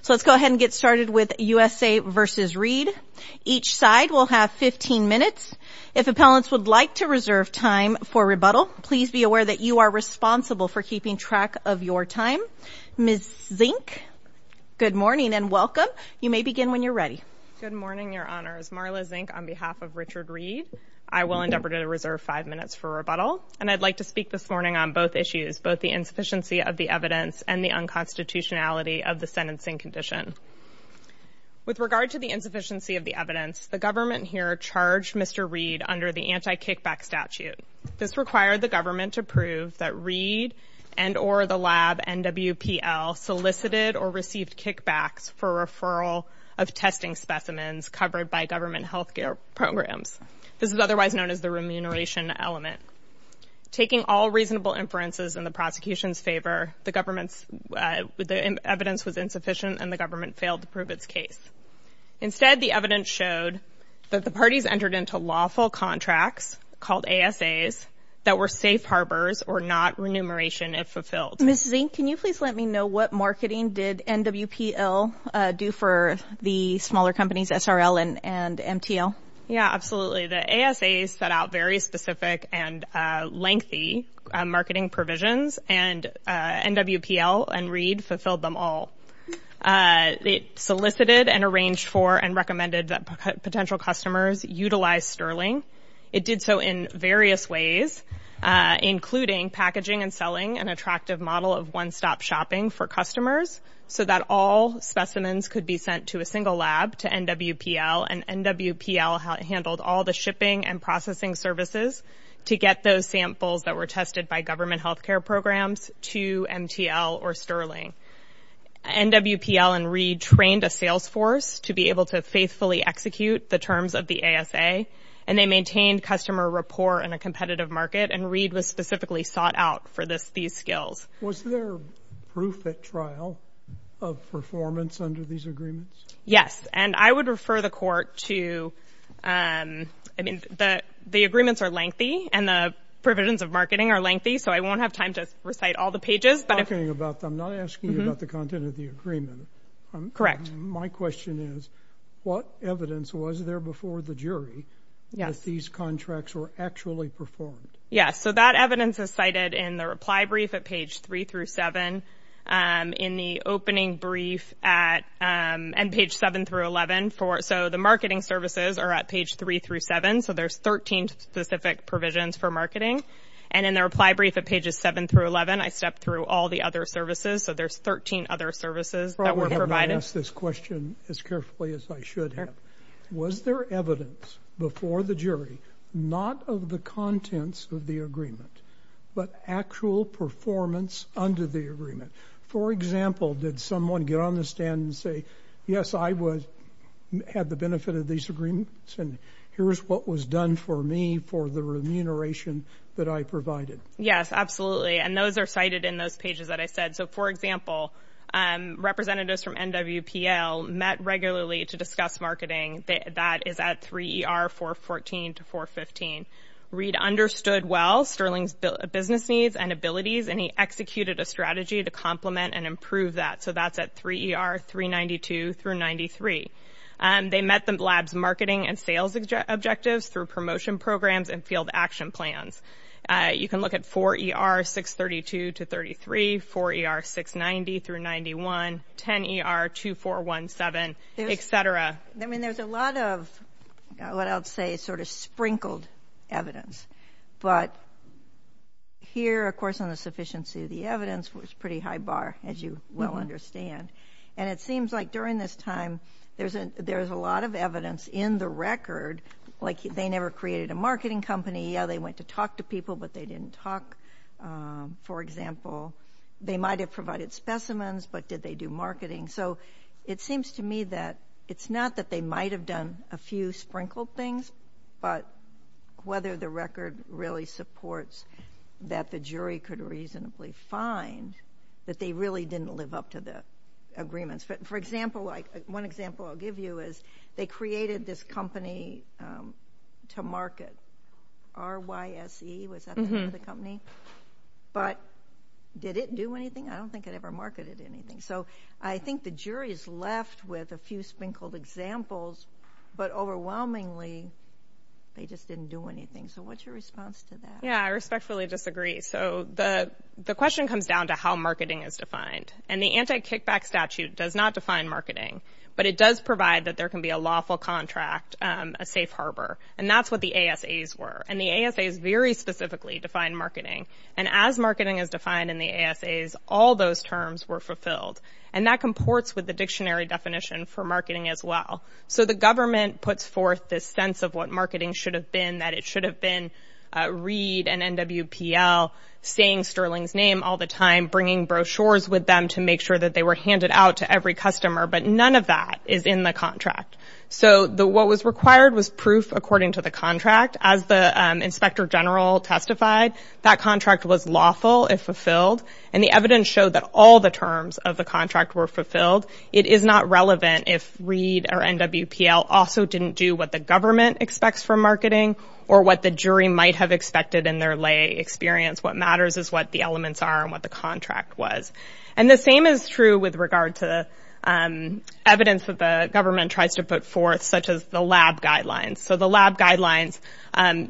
So let's go ahead and get started with USA v. Reid. Each side will have 15 minutes. If appellants would like to reserve time for rebuttal, please be aware that you are responsible for keeping track of your time. Ms. Zink, good morning and welcome. You may begin when you're ready. Good morning, Your Honors. Marla Zink on behalf of Richard Reid. I will endeavor to reserve five minutes for rebuttal and I'd like to speak this morning on both issues, both the insufficiency of the evidence and the unconstitutionality of the sentencing condition. With regard to the insufficiency of the evidence, the government here charged Mr. Reid under the anti-kickback statute. This required the government to prove that Reid and or the lab NWPL solicited or received kickbacks for referral of testing specimens covered by government healthcare programs. This is otherwise known as the remuneration element. Taking all reasonable inferences in the prosecution's favor, the evidence was insufficient and the government failed to prove its case. Instead, the evidence showed that the parties entered into lawful contracts called ASAs that were safe harbors or not remuneration if fulfilled. Ms. Zink, can you please let me know what marketing did NWPL do for the smaller companies, SRL and MTL? Yeah, NWPL and Reid fulfilled them all. They solicited and arranged for and recommended that potential customers utilize Sterling. It did so in various ways, including packaging and selling an attractive model of one-stop shopping for customers so that all specimens could be sent to a single lab to NWPL and NWPL handled all the shipping and processing services to get those samples that were tested by government health care programs to MTL or Sterling. NWPL and Reid trained a sales force to be able to faithfully execute the terms of the ASA and they maintained customer rapport in a competitive market and Reid was specifically sought out for these skills. Was there proof at trial of performance under these agreements? Yes, and I would refer the court to, I mean, the agreements are lengthy and the provisions of marketing are lengthy so I won't have time to recite all the pages. I'm not asking you about the content of the agreement. Correct. My question is, what evidence was there before the jury that these contracts were actually performed? Yes, so that evidence is cited in the reply brief at page 3 through 7 and in the opening brief at and page 7 through 11 for so the marketing services are at page 3 through 7 so there's 13 specific provisions for marketing and in the reply brief at pages 7 through 11 I stepped through all the other services so there's 13 other services that were provided. I probably should have asked this question as carefully as I should have. Was there evidence before the jury, not of the contents of the agreement, but actual performance under the agreement? For example, did someone get on the stand and say, yes I would have the benefit of these agreements and here's what was done for me for the remuneration that I provided? Yes, absolutely, and those are cited in those pages that I said. So for example, representatives from NWPL met regularly to discuss marketing that is at 3 ER 414 to 415. Reid understood well Sterling's business needs and abilities and he executed a strategy to complement and improve that so that's at 3 ER 392 through 93. They met the lab's marketing and sales objectives through promotion programs and field action plans. You can look at 4 ER 632 to 33, 4 ER 690 through 91, 10 ER 2417, etc. I mean there's a lot of what I'll say sort of sprinkled evidence but here of course on the sufficiency of the evidence was pretty high bar as you well understand and it seems like during this time there's a there's a lot of evidence in the record like they never created a marketing company yeah they went to talk to people but they didn't talk for example they might have provided specimens but did they do marketing so it seems to me that it's not that they might have done a few sprinkled things but whether the record really supports that the jury could reasonably find that they really didn't live up to the agreements but for example like one example I'll give you is they created this company to market RYSE was the company but did it do anything I don't think it ever marketed anything so I think the jury is left with a few sprinkled examples but overwhelmingly they just didn't do anything so what's your response to that yeah I respectfully disagree so the the question comes down to how marketing is defined and the anti-kickback statute does not define marketing but it does provide that there can be a lawful contract a safe harbor and that's what the ASA's were and the ASA's very specifically defined marketing and as marketing is defined in the ASA's all those terms were fulfilled and that comports with the dictionary definition for marketing as well so the government puts forth this sense of what marketing should have been that it should have and NWPL saying Sterling's name all the time bringing brochures with them to make sure that they were handed out to every customer but none of that is in the contract so the what was required was proof according to the contract as the inspector general testified that contract was lawful if fulfilled and the evidence showed that all the terms of the contract were fulfilled it is not relevant if read or NWPL also didn't do what the government expects from marketing or what the jury might have expected in their lay experience what matters is what the elements are and what the contract was and the same is true with regard to the evidence that the government tries to put forth such as the lab guidelines so the lab guidelines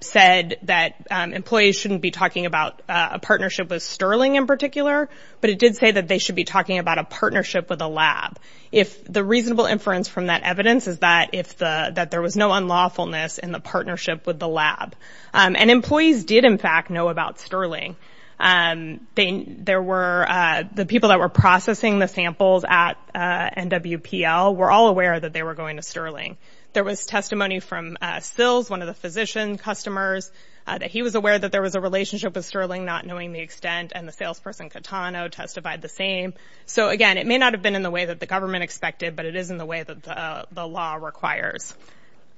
said that employees shouldn't be talking about a partnership with Sterling in particular but it did say that they should be talking about a partnership with a lab if the reasonable inference from that evidence is that if the that there was no unlawfulness in the partnership with the lab and employees did in fact know about Sterling and they there were the people that were processing the samples at NWPL were all aware that they were going to Sterling there was testimony from Sills one of the physician customers that he was aware that there was a relationship with Sterling not knowing the extent and the salesperson Catano testified the same so again it may not have been in the way that the government expected but it is in the way that the law requires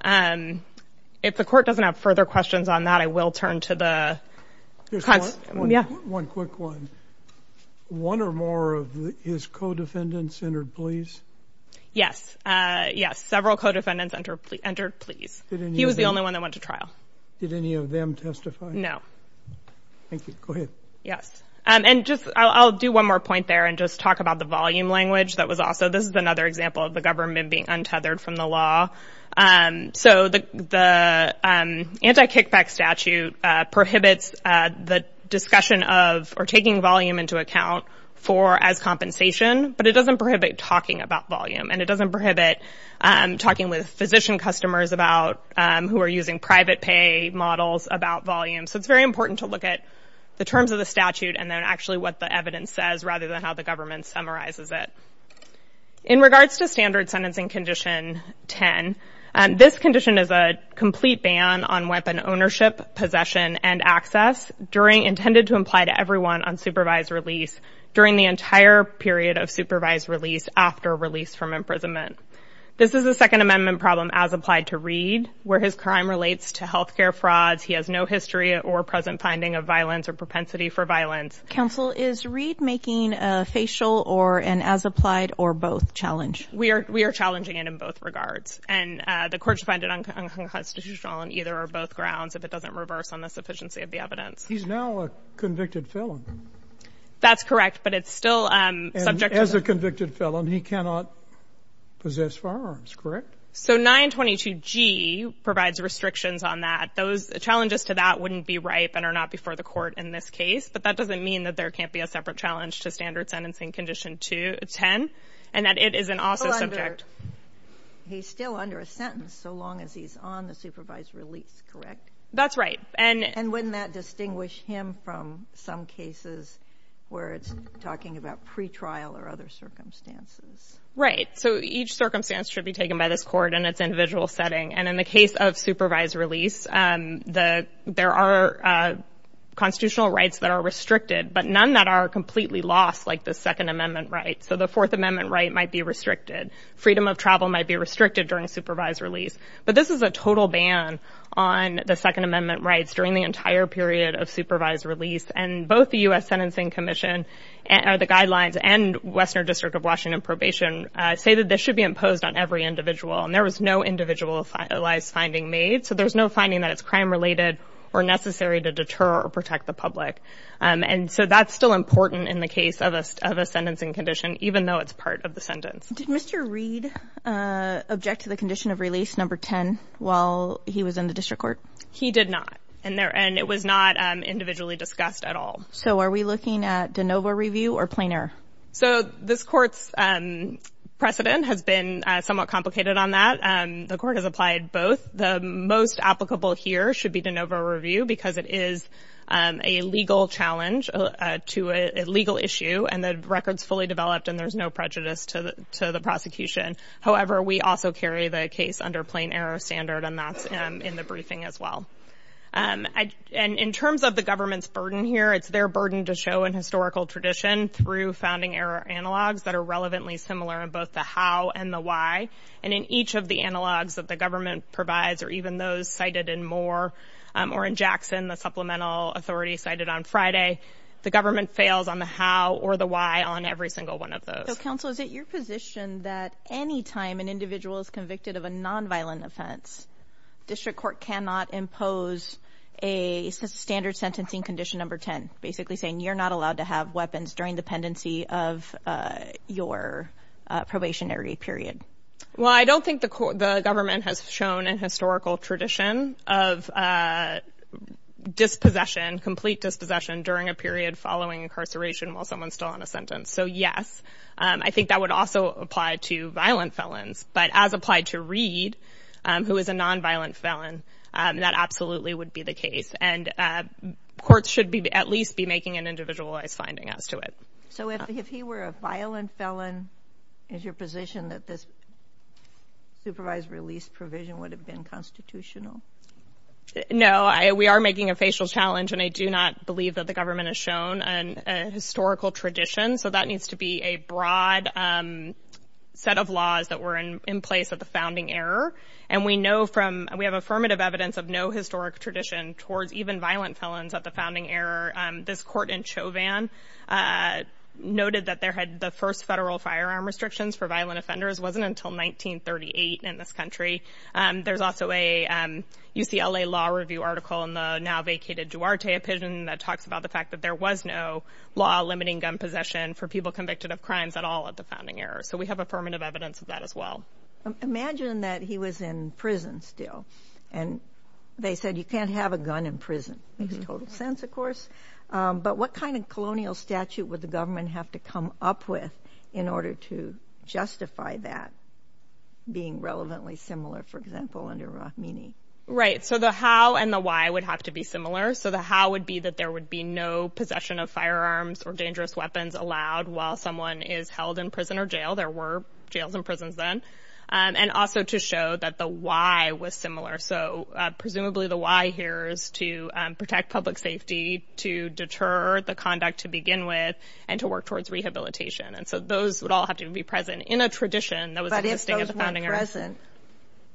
and if the court doesn't have further questions on that I will turn to the yes one quick one one or more of his co-defendants entered please yes yes several co-defendants enter entered please he was the only one that went to trial did any of them testify no thank you yes and just I'll do one more point there and just talk about the volume language that was also this is another example of the government being untethered from the law and so the the anti-kickback statute prohibits the discussion of or taking volume into account for as compensation but it doesn't prohibit talking about volume and it doesn't prohibit talking with physician customers about who are using private pay models about volume so it's very important to look at the terms of the statute and then actually what the says rather than how the government summarizes it in regards to standard sentencing condition 10 and this condition is a complete ban on weapon ownership possession and access during intended to imply to everyone on supervised release during the entire period of supervised release after release from imprisonment this is the Second Amendment problem as applied to read where his crime relates to health care frauds he has no history or present finding of violence or propensity for violence counsel is read making a facial or an as applied or both challenge we are we are challenging it in both regards and the courts find it unconstitutional on either or both grounds if it doesn't reverse on the sufficiency of the evidence he's now a convicted felon that's correct but it's still subject as a convicted felon he cannot possess firearms correct so 922 G provides restrictions on that those challenges to that wouldn't be ripe and are not before the court in this case but that doesn't mean that there can't be a separate challenge to standard sentencing condition 210 and that it isn't also subject he's still under a sentence so long as he's on the supervised release correct that's right and and when that distinguish him from some cases where it's talking about pretrial or other circumstances right so each circumstance should be taken by this court and it's individual setting and in the case of supervised release the there are constitutional rights that are restricted but none that are completely lost like the Second Amendment right so the Fourth Amendment right might be restricted freedom of travel might be restricted during supervised release but this is a total ban on the Second Amendment rights during the entire period of supervised release and both the US Sentencing Commission and are the guidelines and Western District of Washington probation say that this should be imposed on every individual and there was no individual finding made so there's no finding that it's crime-related or necessary to deter or protect the public and so that's still important in the case of us of a sentencing condition even though it's part of the sentence did mr. Reid object to the condition of release number 10 while he was in the district court he did not and there and it was not individually discussed at all so are we looking at de novo review or planar so this courts precedent has been somewhat complicated on that and the court has applied both the most applicable here should be de novo review because it is a legal challenge to a legal issue and the records fully developed and there's no prejudice to the to the prosecution however we also carry the case under plain error standard and that's in the briefing as well and in terms of the government's burden here it's their burden to show in historical tradition through founding error analogs that are similar in both the how and the why and in each of the analogs that the government provides or even those cited in more or in Jackson the supplemental authority cited on Friday the government fails on the how or the why on every single one of those counsel is that your position that any time an individual is convicted of a nonviolent offense district court cannot impose a standard sentencing condition number 10 basically saying you're not allowed to have weapons during the pendency of your probationary period well I don't think the court the government has shown in historical tradition of dispossession complete dispossession during a period following incarceration while someone still on a sentence so yes I think that would also apply to violent felons but as applied to read who is a nonviolent felon that absolutely would be the case and courts should be at least be making an individualized finding as to it so if he were a violent felon is your position that this supervised release provision would have been constitutional no I we are making a facial challenge and I do not believe that the government has shown an historical tradition so that needs to be a broad set of laws that were in place at the founding error and we know from we have affirmative evidence of no historic tradition towards even violent felons at the founding error this court in Chauvin noted that there had the first federal firearm restrictions for violent offenders wasn't until 1938 in this country and there's also a UCLA law review article in the now vacated Duarte opinion that talks about the fact that there was no law limiting gun possession for people convicted of crimes at all at the founding error so we have affirmative evidence of that as well imagine that he was in prison still and they said you can't have a gun in prison makes total sense of course but what kind of colonial statute would the government have to come up with in order to justify that being relevantly similar for example under rock meaning right so the how and the why would have to be similar so the how would be that there would be no possession of firearms or dangerous weapons allowed while someone is held in prison or jail there were jails and prisons then and also to show that the why was similar so presumably the why here is to protect public safety to deter the conduct to begin with and to work towards rehabilitation and so those would all have to be present in a tradition that was at the founding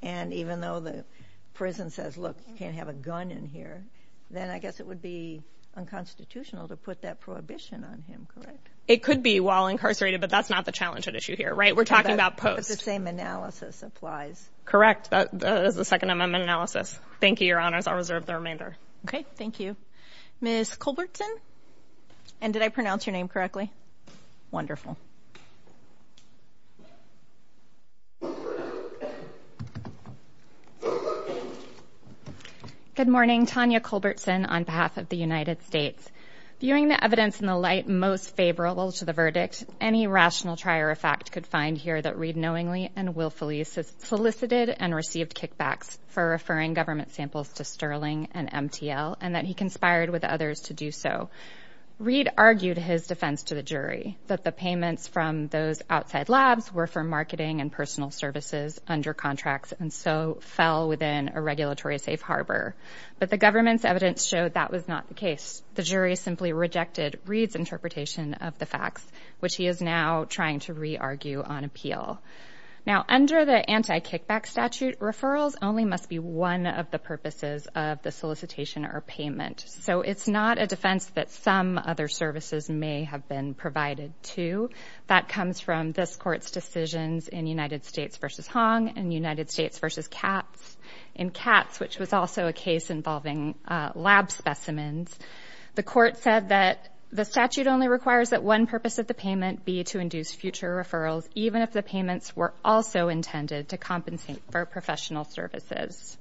and even though the prison says look you can't have a gun in here then I guess it would be unconstitutional to put that prohibition on him correct it could be while incarcerated but that's not the challenge that issue here right we're talking about post the same analysis applies correct that does the Second Amendment analysis thank you your honors I'll reserve the remainder okay thank you miss Colbertson and did I pronounce your name correctly wonderful good morning Tanya Colbertson on behalf of the United States viewing the evidence in the light most favorable to the any rational trier of fact could find here that read knowingly and willfully solicited and received kickbacks for referring government samples to sterling and MTL and that he conspired with others to do so read argued his defense to the jury that the payments from those outside labs were for marketing and personal services under contracts and so fell within a regulatory safe harbor but the government's evidence showed that was not the case the jury simply rejected reads interpretation of the facts which he is now trying to re-argue on appeal now under the anti-kickback statute referrals only must be one of the purposes of the solicitation or payment so it's not a defense that some other services may have been provided to that comes from this court's decisions in United States versus Hong and United States versus cats in cats which was also a case involving lab specimens the court said that the statute only requires that one purpose of the payment be to induce future referrals even if the payments were also intended to compensate for professional services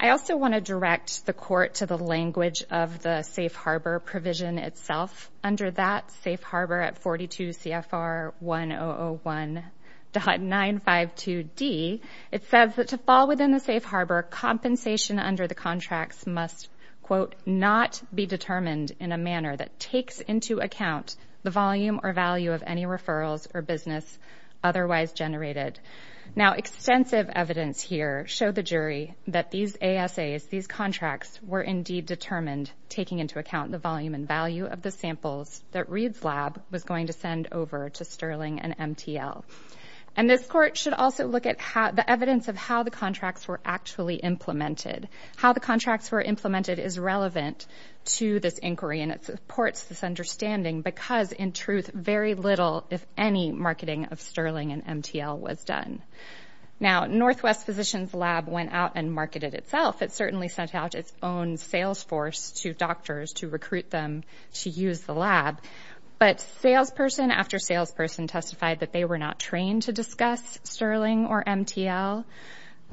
I also want to direct the court to the language of the safe harbor provision itself under that safe harbor at 42 CFR 1001 dot 952 D it says that to fall within the safe harbor compensation under the contracts must quote not be determined in a manner that takes into account the volume or value of any referrals or business otherwise generated now extensive evidence here show the jury that these ASA is these contracts were indeed determined taking into account the volume and value of the samples that reads lab was going to send over to sterling and MTL and this court should also look at how the evidence of how the contracts were actually implemented how the contracts were implemented is relevant to this inquiry and it supports this understanding because in truth very little if any marketing of sterling and MTL was done now Northwest Physicians Lab went out and marketed itself it certainly sent out its own sales force to doctors to recruit them to use the lab but salesperson after salesperson testified that they were not trained to discuss sterling or MTL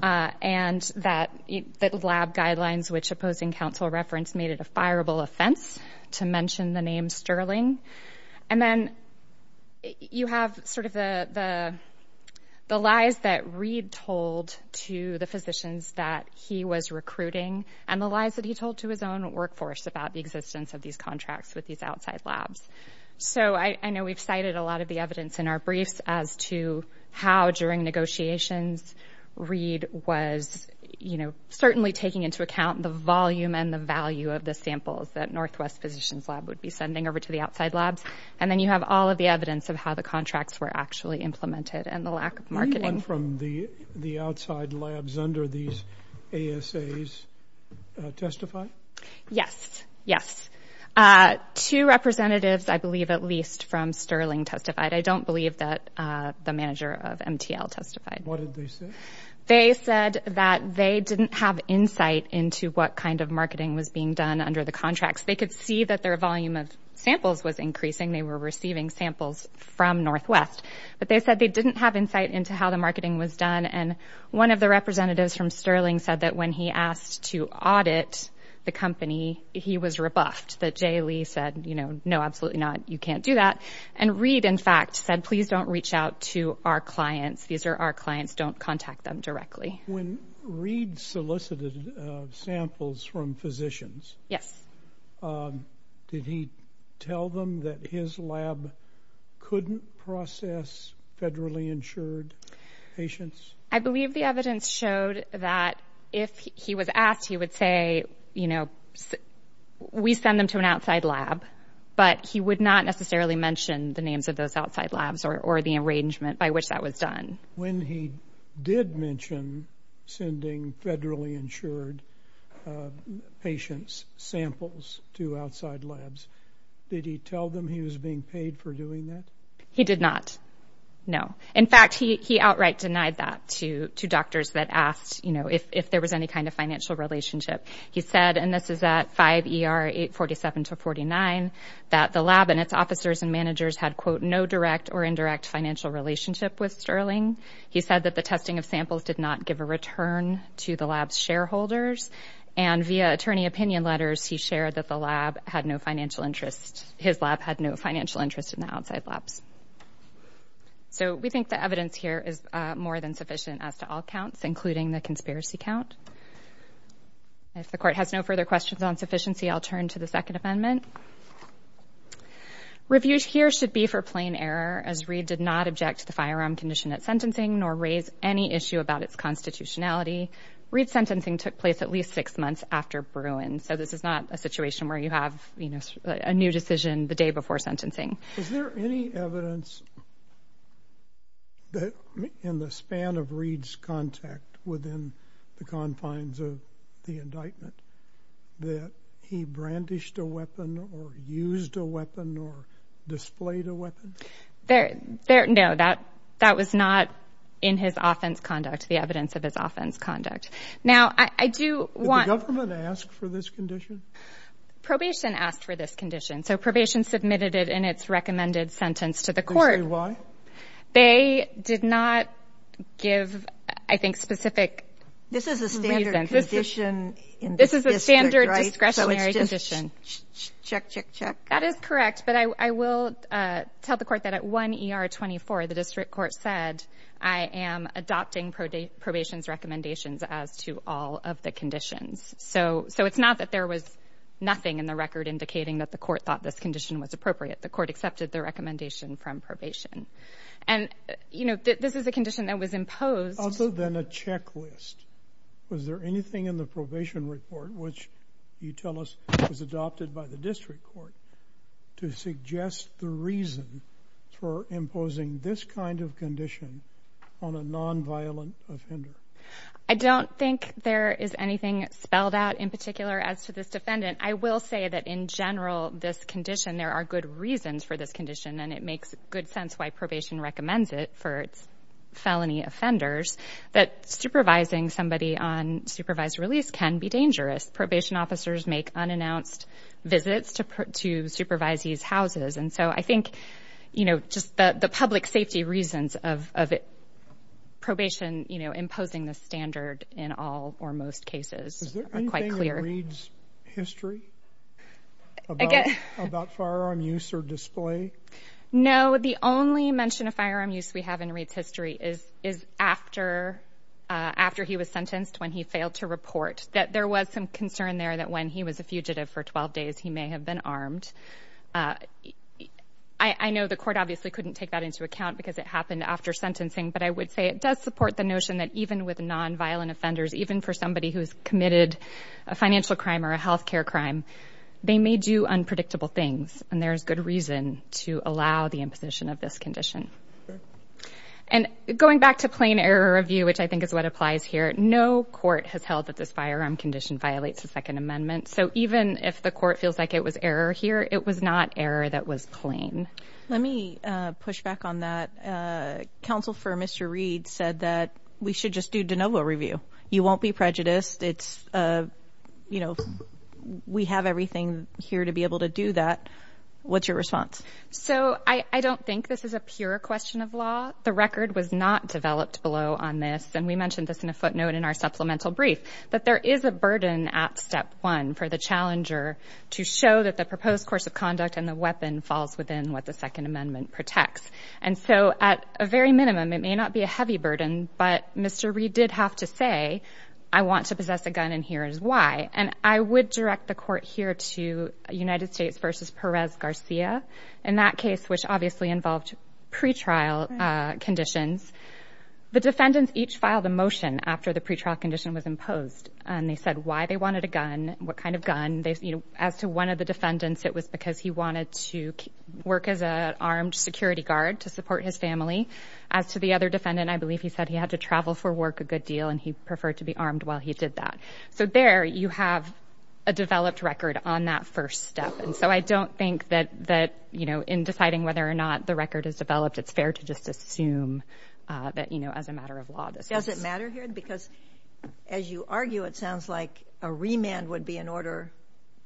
and that the lab guidelines which opposing counsel reference made it a fireable offense to mention the name sterling and then you have sort of the the lies that read told to the physicians that he was recruiting and the lies that he told to his own workforce about the existence of these contracts with these outside labs so I know we've cited a lot of the evidence in our briefs as to how during negotiations read was you know certainly taking into account the volume and the value of the samples that Northwest Physicians Lab would be sending over to the outside labs and then you have all of the evidence of how the contracts were actually implemented and the lack of marketing from the the outside labs under these ASA's testify yes yes two representatives I believe at least from sterling testified I don't believe that the manager of MTL testified they said that they didn't have insight into what kind of marketing was being done under the contracts they could see that their volume of samples was increasing they were receiving samples from Northwest but they said they didn't have insight into how the marketing was done and one of the representatives from sterling said that when he asked to audit the company he was rebuffed that J Lee said you know no absolutely not you can't do that and read in fact said please don't reach out to our clients these are our clients don't contact them directly when Reid solicited samples from physicians yes did he tell them that his lab couldn't process federally insured patients I believe the evidence showed that if he was asked he would say you know we send them to an outside lab but he would not necessarily mention the names of those outside labs or the arrangement by which that was done when he did mention sending federally insured patients samples to outside labs did he tell them he was being paid for doing that he did not know in fact he outright denied that to two doctors that asked you know if there was any kind of relationship he said and this is at 5 er 847 to 49 that the lab and its officers and managers had quote no direct or indirect financial relationship with sterling he said that the testing of samples did not give a return to the labs shareholders and via attorney opinion letters he shared that the lab had no financial interest his lab had no financial interest in the outside labs so we think the evidence here is more than sufficient as to all counts including the conspiracy count if the court has no further questions on sufficiency I'll turn to the second amendment reviews here should be for plain error as Reid did not object to the firearm condition at sentencing nor raise any issue about its constitutionality Reid sentencing took place at least six months after Bruin so this is not a situation where you have you know a new decision the day before sentencing is there any evidence that in the span of Reid's contact within the confines of the indictment that he brandished a weapon or used a weapon or displayed a weapon there there no that that was not in his offense conduct the evidence of his offense conduct now I do want to ask for this condition probation asked for this condition so probation submitted it in its recommended sentence to the court why they did not give I think specific this is a standard condition in this is a standard discretionary position check check check that is correct but I will tell the court that at 1 ER 24 the district court said I am adopting probation recommendations as to all of the conditions so so it's not that there was nothing in the record indicating that the court thought this condition was appropriate the court accepted the recommendation from probation and you know this is a condition that was imposed other than a checklist was there anything in the probation report which you tell us was adopted by the district court to suggest the reason for imposing this kind of condition on a non-violent offender I don't think there is anything spelled out in particular as to this defendant I will say that in general this condition there are good reasons for this condition and it makes good sense why probation recommends it for its felony offenders that supervising somebody on supervised release can be dangerous probation officers make unannounced visits to put to supervise these houses and so I think you know just the public safety reasons of probation you know imposing the standard in all or most cases are quite clear history about firearm use or display no the only mention of firearm use we have in reads history is is after after he was sentenced when he failed to report that there was some concern there that when he was a fugitive for 12 days he may have been armed I I know the court obviously couldn't take that into account because it happened after sentencing but I would say it does support the notion that even with non-violent offenders even for somebody who's committed a financial crime or a health care crime they may do unpredictable things and there's good reason to allow the imposition of this condition and going back to plain error of you which I think is what applies here no court has held that this firearm condition violates the Second Amendment so even if the court feels like it was error here it was not error that was plain let me push back on that counsel for mr. Reid said that we should just do you won't be prejudiced it's you know we have everything here to be able to do that what's your response so I I don't think this is a pure question of law the record was not developed below on this and we mentioned this in a footnote in our supplemental brief that there is a burden at step one for the challenger to show that the proposed course of conduct and the weapon falls within what the Second Amendment protects and so at a very minimum it may not be a heavy burden but mr. Reid did have to say I want to possess a gun and here is why and I would direct the court here to United States versus Perez Garcia in that case which obviously involved pretrial conditions the defendants each filed a motion after the pretrial condition was imposed and they said why they wanted a gun what kind of gun they you know as to one of the defendants it was because he wanted to work as a armed security guard to support his family as to the other defendant I believe he said he had to travel for work a good deal and he preferred to be armed while he did that so there you have a developed record on that first step and so I don't think that that you know in deciding whether or not the record is developed it's fair to just assume that you know as a matter of law this does it matter here because as you argue it sounds like a remand would be in order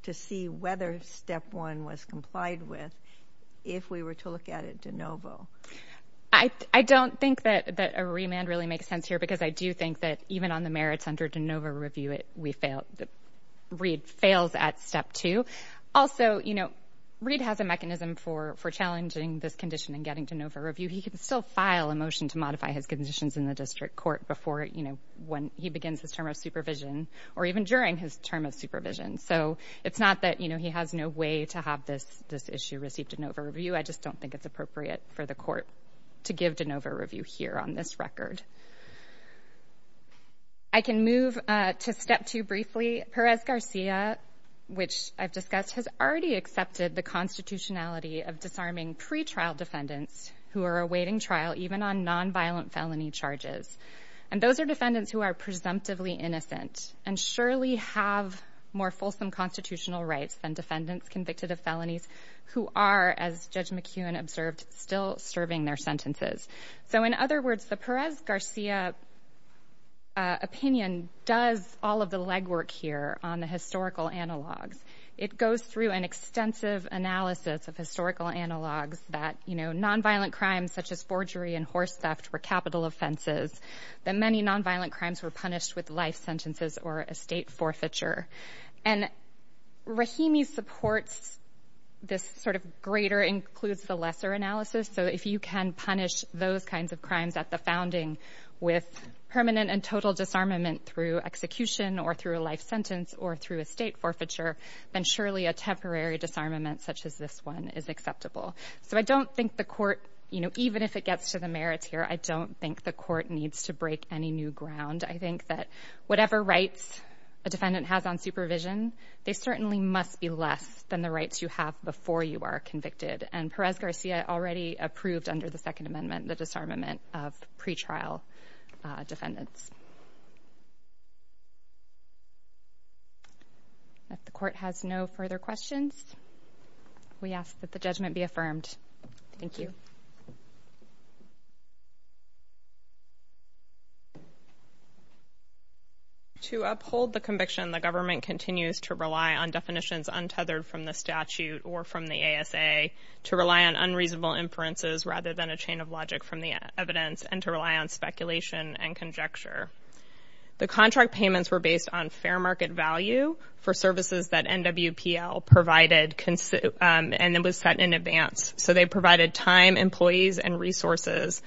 to see whether step one was complied with if we don't think that that a remand really makes sense here because I do think that even on the merits under DeNova review it we failed that Reid fails at step two also you know Reid has a mechanism for for challenging this condition and getting to know for review he can still file a motion to modify his conditions in the district court before you know when he begins his term of supervision or even during his term of supervision so it's not that you know he has no way to have this this issue received in over review I just don't think it's appropriate for the court to give DeNova review here on this record I can move to step two briefly Perez Garcia which I've discussed has already accepted the constitutionality of disarming pretrial defendants who are awaiting trial even on nonviolent felony charges and those are defendants who are presumptively innocent and surely have more fulsome constitutional rights than convicted of felonies who are as judge McEwen observed still serving their sentences so in other words the Perez Garcia opinion does all of the legwork here on the historical analogues it goes through an extensive analysis of historical analogues that you know nonviolent crimes such as forgery and horse theft were capital offenses that many nonviolent crimes were punished with life sentences or estate forfeiture and Rahimi supports this sort of greater includes the lesser analysis so if you can punish those kinds of crimes at the founding with permanent and total disarmament through execution or through a life sentence or through estate forfeiture then surely a temporary disarmament such as this one is acceptable so I don't think the court you know even if it gets to the merits here I don't think the court needs to break any new ground I think that whatever rights a defendant has on supervision they certainly must be less than the rights you have before you are convicted and Perez Garcia already approved under the Second Amendment the disarmament of pretrial defendants if the court has no further questions we ask that the judgment be affirmed thank you to uphold the conviction the government continues to rely on definitions untethered from the statute or from the ASA to rely on unreasonable inferences rather than a chain of logic from the evidence and to rely on speculation and conjecture the contract payments were based on fair market value for services that NW PL provided can sit and it was set in advance so they provided time and resources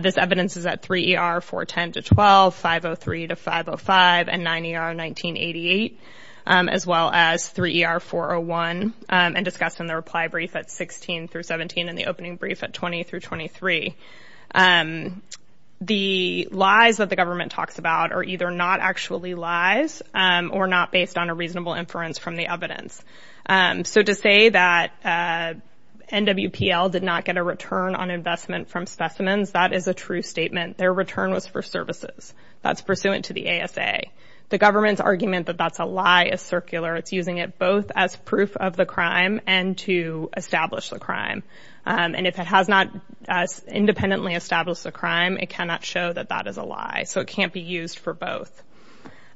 this evidence is at 3 ER 4 10 to 12 503 to 505 and 90 are 1988 as well as 3 ER 401 and discussed in the reply brief at 16 through 17 in the opening brief at 20 through 23 the lies that the government talks about are either not actually lies or not based on a reasonable inference from the evidence so to say that NW PL did not get a return on investment from specimens that is a true statement their return was for services that's pursuant to the ASA the government's argument that that's a lie is circular it's using it both as proof of the crime and to establish the crime and if it has not independently established a crime it cannot show that that is a lie so it can't be used for both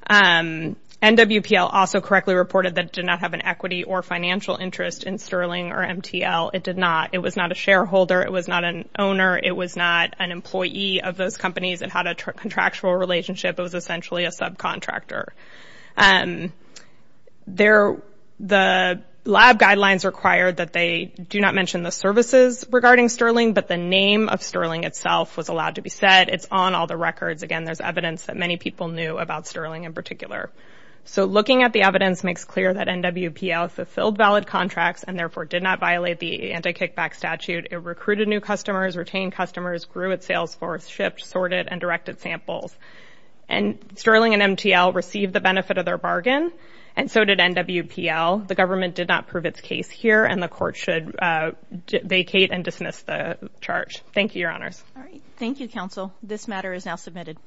and NW PL also correctly reported that did not have an equity or financial interest in sterling or MTL it did not it was not a shareholder it was not an owner it was not an employee of those companies and how to contractual relationship it was essentially a subcontractor and there the lab guidelines required that they do not mention the services regarding sterling but the name of sterling itself was allowed to be said it's on all the again there's evidence that many people knew about sterling in particular so looking at the evidence makes clear that NW PL fulfilled valid contracts and therefore did not violate the anti-kickback statute it recruited new customers retained customers grew at Salesforce shipped sorted and directed samples and sterling and MTL received the benefit of their bargain and so did NW PL the government did not prove its case here and the court should vacate and dismiss the charge thank you your honors thank you counsel this matter is now submitted